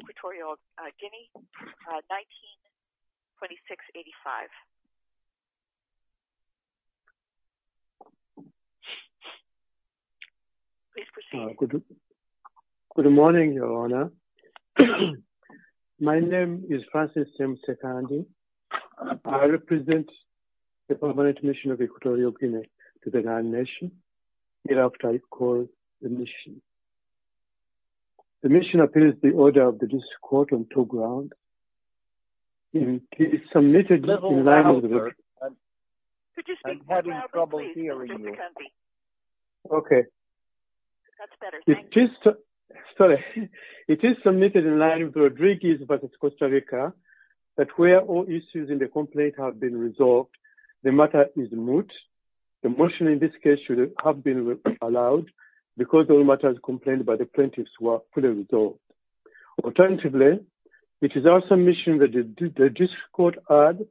Equatorial Guinea, 1926-85. Please proceed. Good morning, Your Honor. My name is Francis M. Sekandi. I represent the Permanent Mission of Equatorial Guinea to the Ghana Nation. Hereafter, I call the mission. The mission appears the order of the District Court on two grounds. It is submitted in line with Rodriguez v. Costa Rica that where all issues in the complaint have been resolved, the matter is moot. The motion in this case should have been allowed because all matters complained by the plaintiffs were fully resolved. Alternatively, it is our submission that the District Court add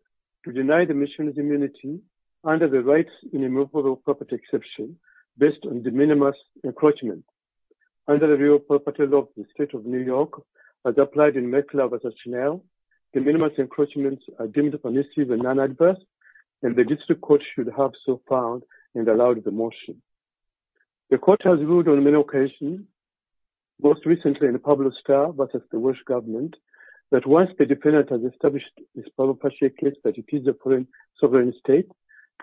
to deny the mission's immunity under the rights in removal of property exception based on de minimis encroachment. Under the real property law of the State of New York as applied in McLeod v. Chanel, de minimis encroachments are deemed permissive and non-adverse and the District Court should have so found and allowed the motion. The Court has ruled on many occasions, most recently in Pablo's trial versus the Welsh government, that once the defendant has established this property case that it is a sovereign state,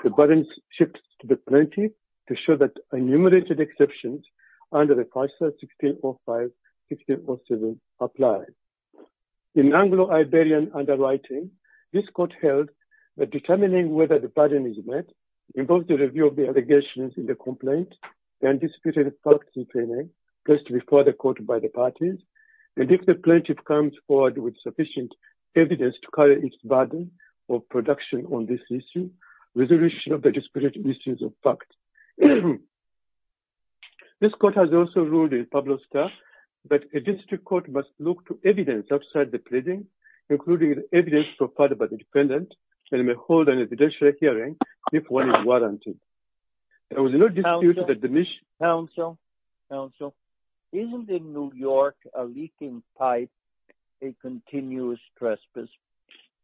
the burden shifts to the plaintiff to show that enumerated exceptions under the FISA 16.05, 16.07 apply. In Anglo-Iberian underwriting, this Court held that determining whether the burden is met involves a review of the allegations in the complaint and disputed facts in plaining placed before the Court by the parties and if the plaintiff comes forward with sufficient evidence to carry its burden of production on this issue, resolution of the disputed issues of facts. This Court has also ruled in Pablo's trial that a District Court must look to evidence outside the pleading, including the evidence provided by the defendant and may hold an evidentiary hearing if one is warranted. There was no dispute that the mission... Council, isn't in New York a leaking pipe a continuous trespass?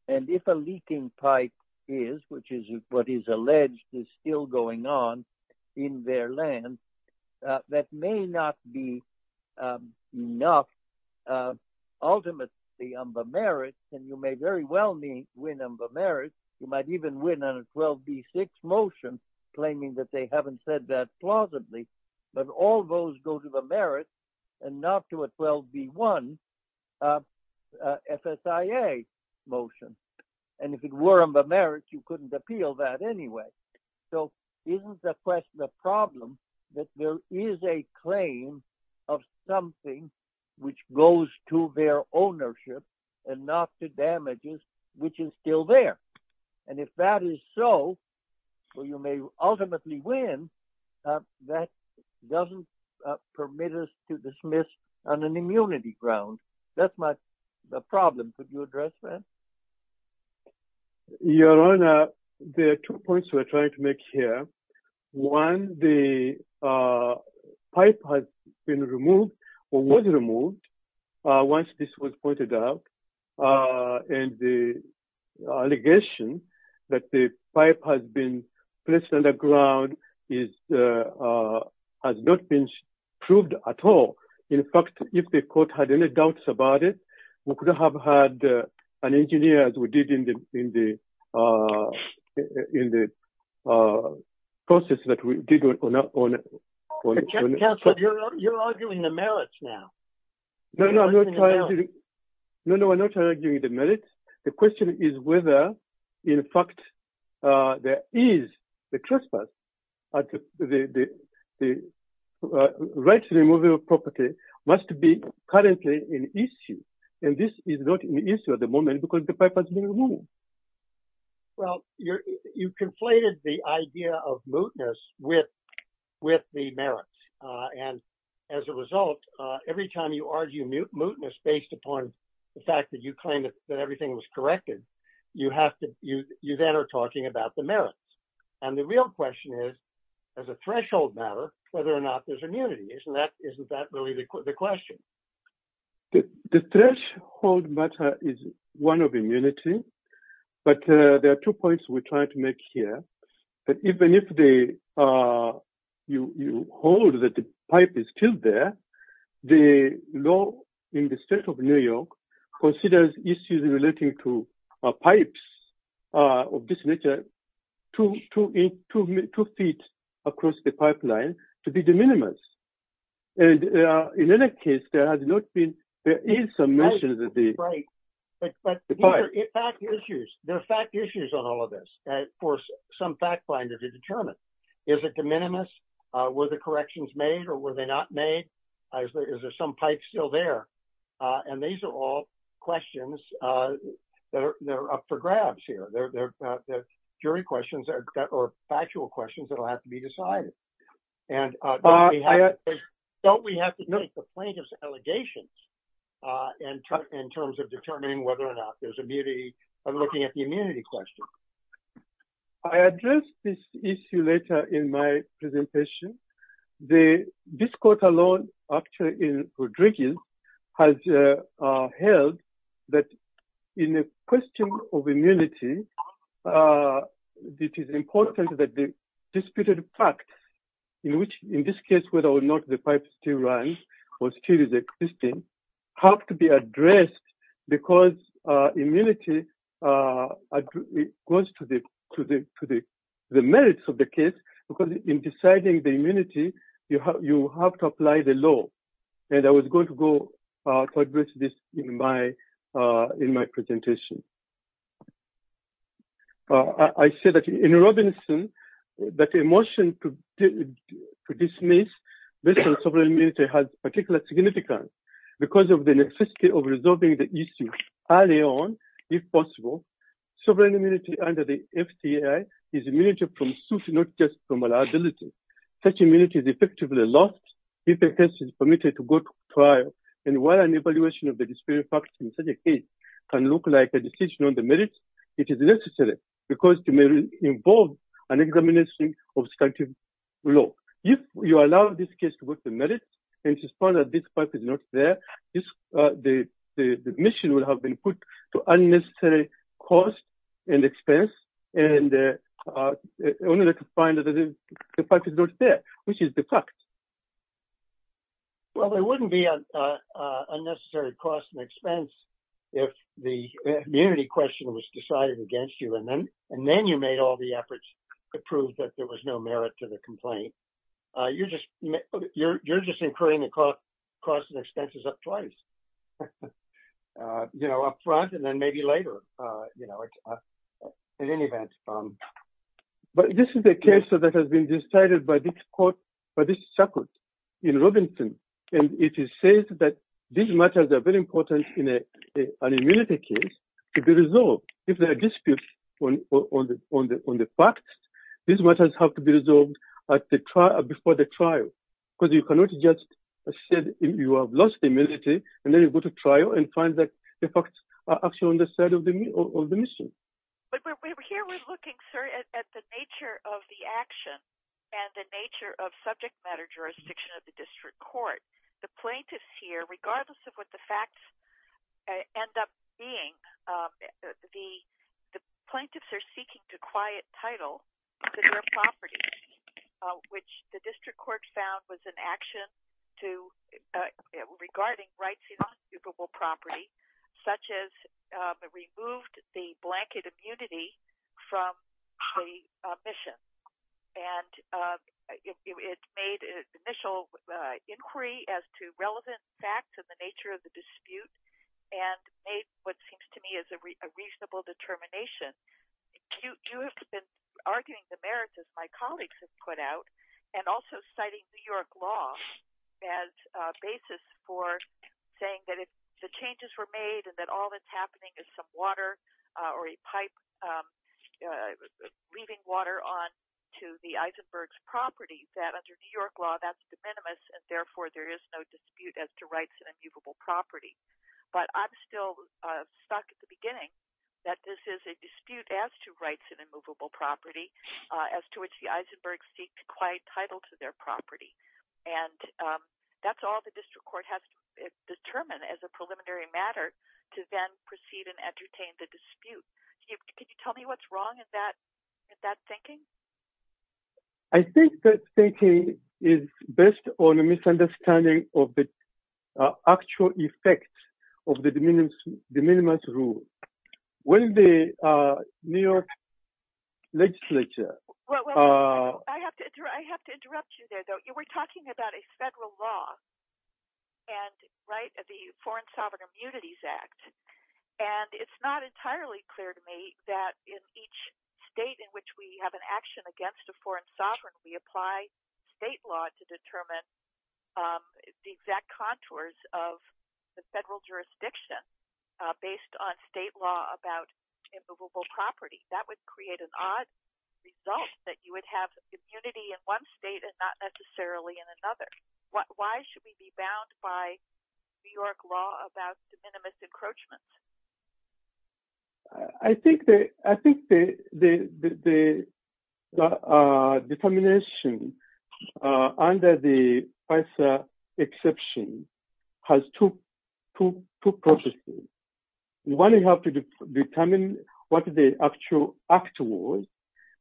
And if a leaking pipe is, which is what is alleged is still going on in their land, that may not be enough. Ultimately, on the merits, and you may very well win on the merits, you might even win on a 12b6 motion, claiming that they haven't said that plausibly, but all those go to the merits, you couldn't appeal that anyway. So isn't the problem that there is a claim of something which goes to their ownership and not to damages, which is still there? And if that is so, or you may ultimately win, that doesn't permit us to dismiss on an Your Honor, there are two points we're trying to make here. One, the pipe has been removed or was removed once this was pointed out. And the allegation that the pipe has been placed on the ground is, has not been proved at all. In fact, if the Court had any doubts about it, we could have had an engineer as we did in the process that we did on... Council, you're arguing the merits now. No, no, I'm not arguing the merits. The question is whether, in fact, there is the trespass the right to removal of property must be currently an issue. And this is not an issue at the moment because the pipe has been removed. Well, you conflated the idea of mootness with the merits. And as a result, every time you argue mootness based upon the fact that you claim that everything was corrected, you have you then are talking about the merits. And the real question is, as a threshold matter, whether or not there's immunity. Isn't that really the question? The threshold matter is one of immunity. But there are two points we're trying to make here. Even if you hold that the pipe is still there, the law in the state of New York considers issues relating to pipes of this nature two feet across the pipeline to be de minimis. And in any case, there has not been... Right, but there are fact issues on all of this for some fact finders to determine. Is it de minimis? Were the corrections made or were they not made? Is there some pipe still there? And these are all questions that are up for grabs here. They're jury questions or factual questions that will have to be decided. And don't we have to take the plaintiff's allegations in terms of determining whether or not there's immunity by looking at the immunity question? I addressed this issue later in my presentation. This court alone, actually in Rodriguez, has held that in a question of immunity, it is important that the disputed fact, in this case, whether or not the pipe still runs or still is existing, have to be addressed because immunity goes to the merits of the case. Because in deciding the immunity, you have to apply the law. And I was going to go to address this in my presentation. I said that in Robinson, that a motion to dismiss based on sovereign immunity has particular significance because of the necessity of resolving the issue early on, if possible. Sovereign immunity under the FCAI is immunity from suit, not just from liability. Such immunity is effectively lost if a case is permitted to go to trial. And while an evaluation of the disputed facts in such a case can look like a decision on the merits, it is necessary because it may involve an examination of statutory law. If you allow this case to go to the merits and it is found that this pipe is not there, the admission would have been put to unnecessary cost and expense in order to find that the pipe is not there, which is the fact. Well, there wouldn't be unnecessary cost and expense if the immunity question was decided against you and then you made all the efforts to prove that there was no merit to the complaint. You're just incurring the cost and expenses up front and then maybe later. But this is a case that has been decided by this circuit in Robinson. And it says that these matters are very important in an immunity case to be resolved. If there are disputes on the facts, these matters have to be resolved before the trial. Because you cannot just say you have lost immunity and then you go to trial and find that the facts are actually on the side of the mission. But here we're looking, sir, at the nature of the action and the nature of subject matter jurisdiction of the district court. The plaintiffs here, regardless of what the facts end up being, the plaintiffs are seeking to quiet title to their property, which the district court found was an action regarding rights in occupable property, such as removed the blanket immunity from the mission. And it made an initial inquiry as to relevant facts and the nature of the dispute and made what seems to me is a reasonable determination. You have been arguing the merits, as my colleagues have put out, and also citing New York law as a basis for saying that if the changes were made and that all that's happening is some water or a pipe, leaving water on to the Eisenberg's property, that under New York law that's de minimis and therefore there is no dispute as to rights in immovable property. But I'm still stuck at the beginning that this is a dispute as to rights in immovable property, as to which the Eisenbergs seek to quiet title to their property. And that's all the district court has determined as a preliminary matter to then proceed and entertain the dispute. Can you tell me what's wrong with that thinking? I think that thinking is based on a misunderstanding of the actual effects of the de minimis rule. When the New York legislature... I have to interrupt you there, though. You were talking about a federal law, the Foreign Sovereign Immunities Act. And it's not entirely clear to me that in each state in which we have an action against a foreign sovereign, we apply state law to determine the exact contours of the federal jurisdiction based on state law about immovable property. That would create an odd result that you would have immunity in one state and not necessarily in another. Why should we be bound by New York law about de minimis encroachment? I think the determination under the FISA exception has two purposes. One, you have to determine what the actual act was.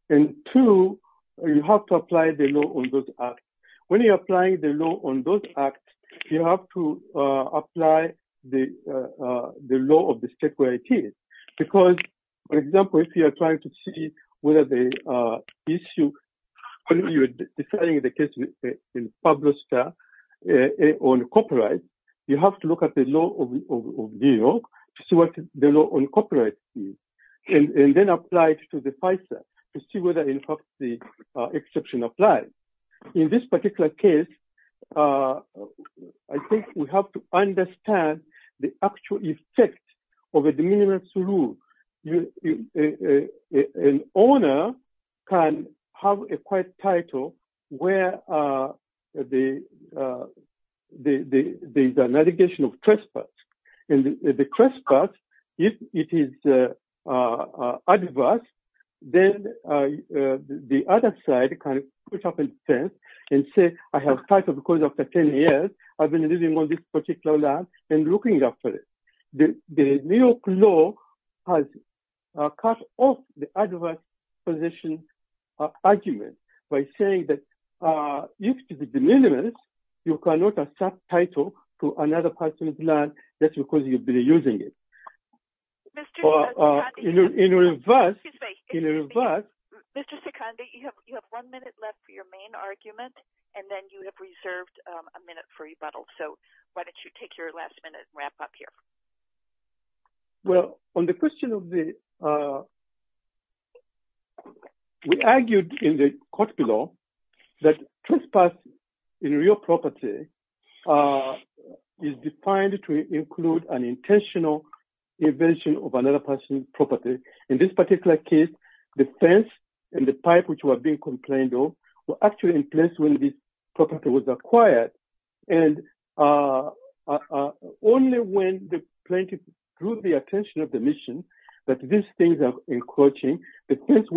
And two, you have to apply the law on those acts. When you're applying the law on those acts, you have to apply the law of the state where it is. Because, for example, if you are trying to see whether the issue... the case in Publoster on copyright, you have to look at the law of New York to see what the law on copyright is. And then apply it to the FISA to see whether, in fact, the exception applies. In this particular case, I think we have to understand the actual effect of a de minimis rule. An owner can have a quite title where the navigation of trespass. And the trespass, if it is adverse, then the other side can put up a fence and say, I have title because after 10 years I've been living on this particular land and looking after it. The New York law has cut off the adverse position argument by saying that if it is a de minimis, you cannot accept title to another person's land just because you've been using it. In reverse... Well, on the question of the... We argued in the court below that trespass in real property is defined to include an intentional invasion of another person's property. In this particular case, the fence and the pipe which were being complained of were actually in place when this property was acquired. And only when the plaintiff drew the attention of the mission that these things are encroaching, the fence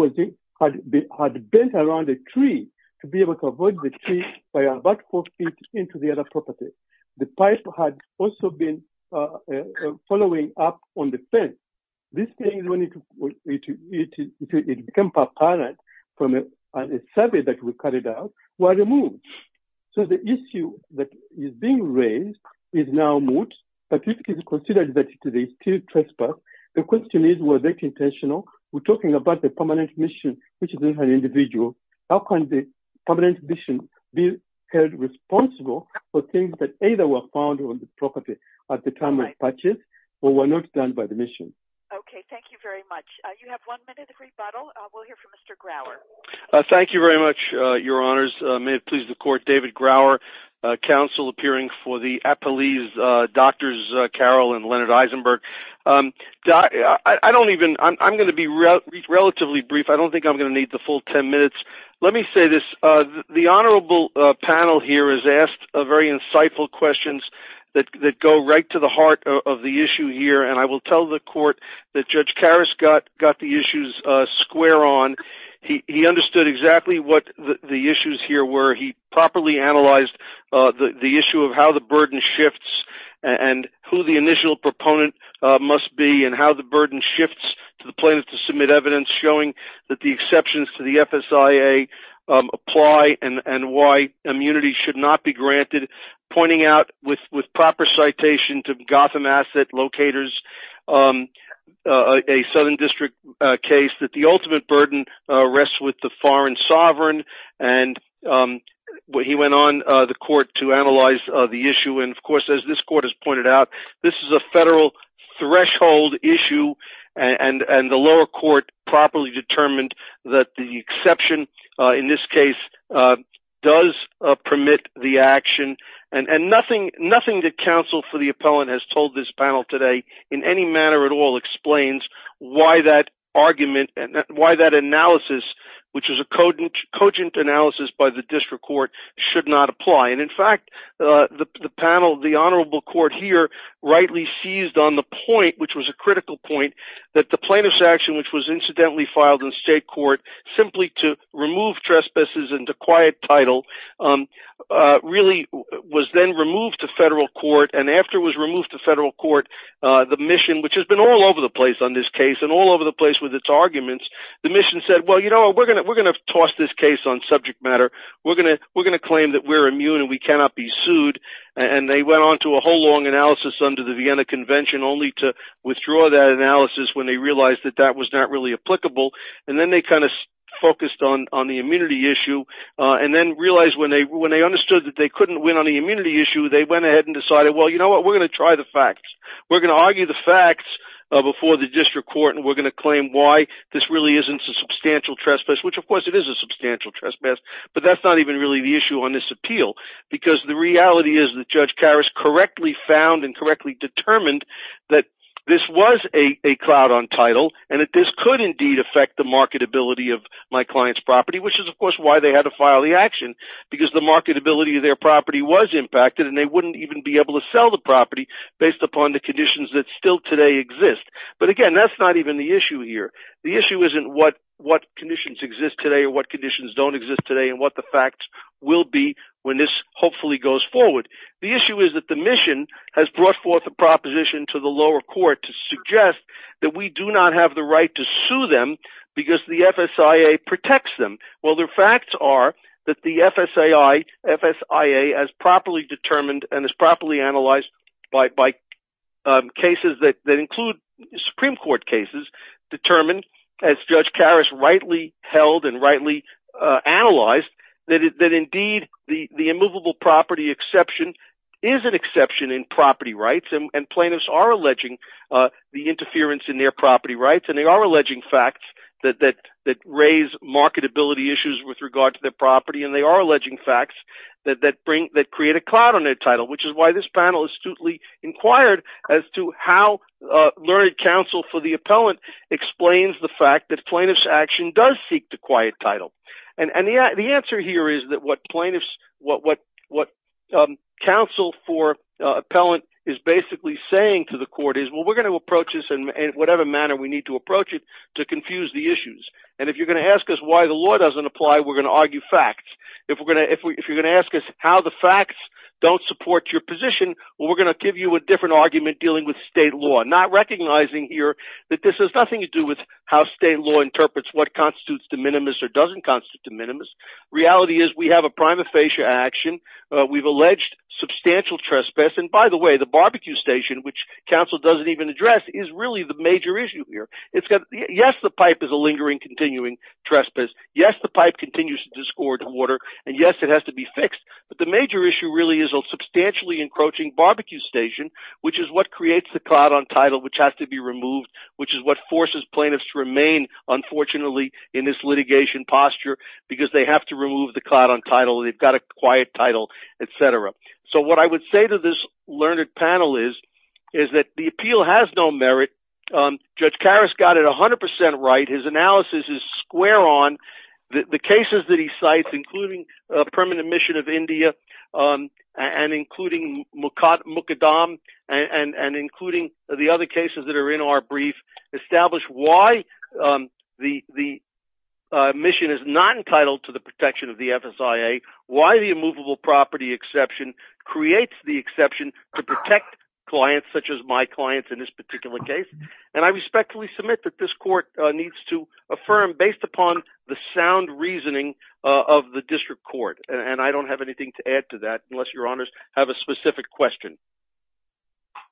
had bent around a tree to be able to avoid the tree by about four feet into the other property. The pipe had also been following up on the fence. These things, when it became apparent from a survey that we carried out, were removed. So the issue that is being raised is now moot, but it is considered that it is still trespass. The question is, were they intentional? We're talking about the permanent mission, which is an individual. How can the permanent mission be held responsible for things that either were found on the property at the time of purchase or were not done by the mission? Okay, thank you very much. You have one minute of rebuttal. We'll hear from Mr. Grower. Thank you very much, Your Honors. May it please the Court, David Grower, Counsel appearing for the Appellees, Drs. Carroll and Leonard Eisenberg. I'm going to be relatively brief. I don't think I'm going to need the full ten minutes. Let me say this. The Honorable panel here has asked very insightful questions that go right to the heart of the issue here, and I will tell the Court that Judge Karas got the issues square on. He understood exactly what the issues here were. He properly analyzed the issue of how the burden shifts and who the initial proponent must be and how the burden shifts to the plaintiff to submit evidence showing that the exceptions to the FSIA apply and why immunity should not be granted, pointing out with proper citation to Gotham Asset Locators, a Southern District case, that the ultimate burden rests with the foreign sovereign. He went on, the Court, to analyze the issue. Of course, as this Court has pointed out, this is a federal threshold issue, and the lower court properly determined that the exception in this case does permit the action. Nothing that counsel for the appellant has told this panel today in any manner at all explains why that argument and why that analysis, which is a cogent analysis by the District Court, should not apply. In fact, the panel, the Honorable Court here, rightly seized on the point, which was a critical point, that the plaintiff's action, which was incidentally filed in state court simply to remove trespasses into quiet title, really was then removed to federal court, and after it was removed to federal court, the mission, which has been all over the place on this case and all over the place with its arguments, the mission said, well, you know, we're going to toss this case on subject matter. We're going to claim that we're immune and we cannot be sued. And they went on to a whole long analysis under the Vienna Convention, only to withdraw that analysis when they realized that that was not really applicable. And then they kind of focused on the immunity issue and then realized when they understood that they couldn't win on the immunity issue, they went ahead and decided, well, you know what, we're going to try the facts. We're going to argue the facts before the District Court and we're going to claim why this really isn't a substantial trespass, which, of course, it is a substantial trespass, but that's not even really the issue on this appeal, because the reality is that Judge Karas correctly found and correctly determined that this was a cloud on title and that this could indeed affect the marketability of my client's property, which is, of course, why they had to file the action, because the marketability of their property was impacted and they wouldn't even be able to sell the property based upon the conditions that still today exist. But, again, that's not even the issue here. The issue isn't what conditions exist today or what conditions don't exist today and what the facts will be when this hopefully goes forward. The issue is that the mission has brought forth a proposition to the lower court to suggest that we do not have the right to sue them because the FSIA protects them. Well, their facts are that the FSIA has properly determined and has properly analyzed by cases that include Supreme Court cases determined, as Judge Karas rightly held and rightly analyzed, that indeed the immovable property exception is an exception in property rights and plaintiffs are alleging the interference in their property rights and they are alleging facts that raise marketability issues with regard to their property and they are alleging facts that create a cloud on their title, which is why this panel astutely inquired as to how learned counsel for the appellant explains the fact that plaintiff's action does seek to quiet title. And the answer here is that what counsel for appellant is basically saying to the court is, well, we're going to approach this in whatever manner we need to approach it to confuse the issues and if you're going to ask us why the law doesn't apply, we're going to argue facts. If you're going to ask us how the facts don't support your position, well, we're going to give you a different argument dealing with state law, not recognizing here that this has nothing to do with how state law interprets what constitutes de minimis or doesn't constitute de minimis. Reality is we have a prima facie action. We've alleged substantial trespass. And by the way, the barbecue station, which counsel doesn't even address, is really the major issue here. Yes, the pipe is a lingering, continuing trespass. Yes, the pipe continues to discord water. And yes, it has to be fixed. But the major issue really is a substantially encroaching barbecue station, which is what creates the cloud on title, which has to be removed, which is what forces plaintiffs to remain, unfortunately, in this litigation posture because they have to remove the cloud on title. They've got a quiet title, et cetera. So what I would say to this learned panel is that the appeal has no merit. Judge Karas got it 100% right. His analysis is square on. The cases that he cites, including permanent mission of India and including Mukaddam, and including the other cases that are in our brief, establish why the mission is not entitled to the protection of the FSIA, why the immovable property exception creates the exception to protect clients such as my clients in this particular case. And I respectfully submit that this court needs to affirm, based upon the sound reasoning of the district court. And I don't have anything to add to that, unless your honors have a specific question.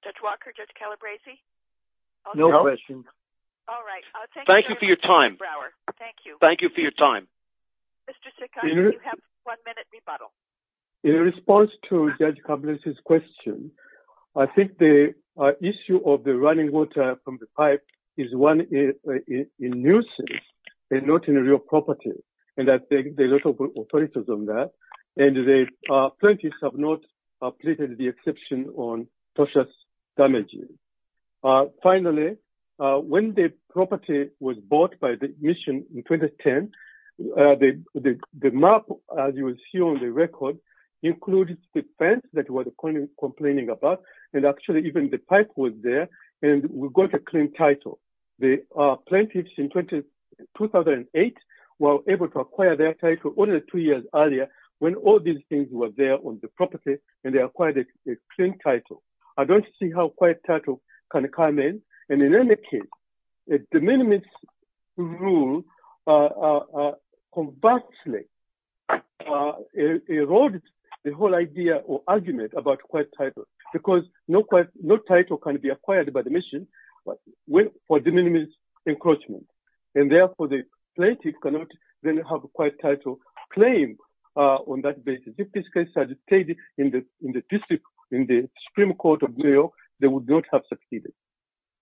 Judge Walker, Judge Calabresi? No question. All right. Thank you for your time. Thank you. Thank you for your time. Mr. Sikandi, you have one minute rebuttal. In response to Judge Calabresi's question, I think the issue of the running water from the pipe is one in nuisance and not in a real property. And I think there are a lot of authorities on that. And the plaintiffs have not pleaded the exception on precious damages. Finally, when the property was bought by the mission in 2010, the map, as you will see on the record, included the fence that was complaining about, and actually even the pipe was there, and we got a clean title. The plaintiffs in 2008 were able to acquire their title only two years earlier, when all these things were there on the property, and they acquired a clean title. I don't see how a quiet title can come in. And in any case, the de minimis rule conversely erodes the whole idea or argument about a quiet title, because no title can be acquired by the mission. But for de minimis encroachment, and therefore the plaintiff cannot then have a quiet title claim on that basis. If this case had stayed in the Supreme Court of New York, they would not have succeeded.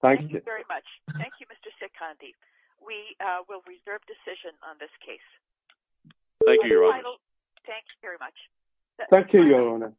Thank you. Thank you very much. Thank you, Mr. Sikandi. We will reserve decision on this case. Thank you, Your Honor. Thank you very much. Thank you, Your Honor.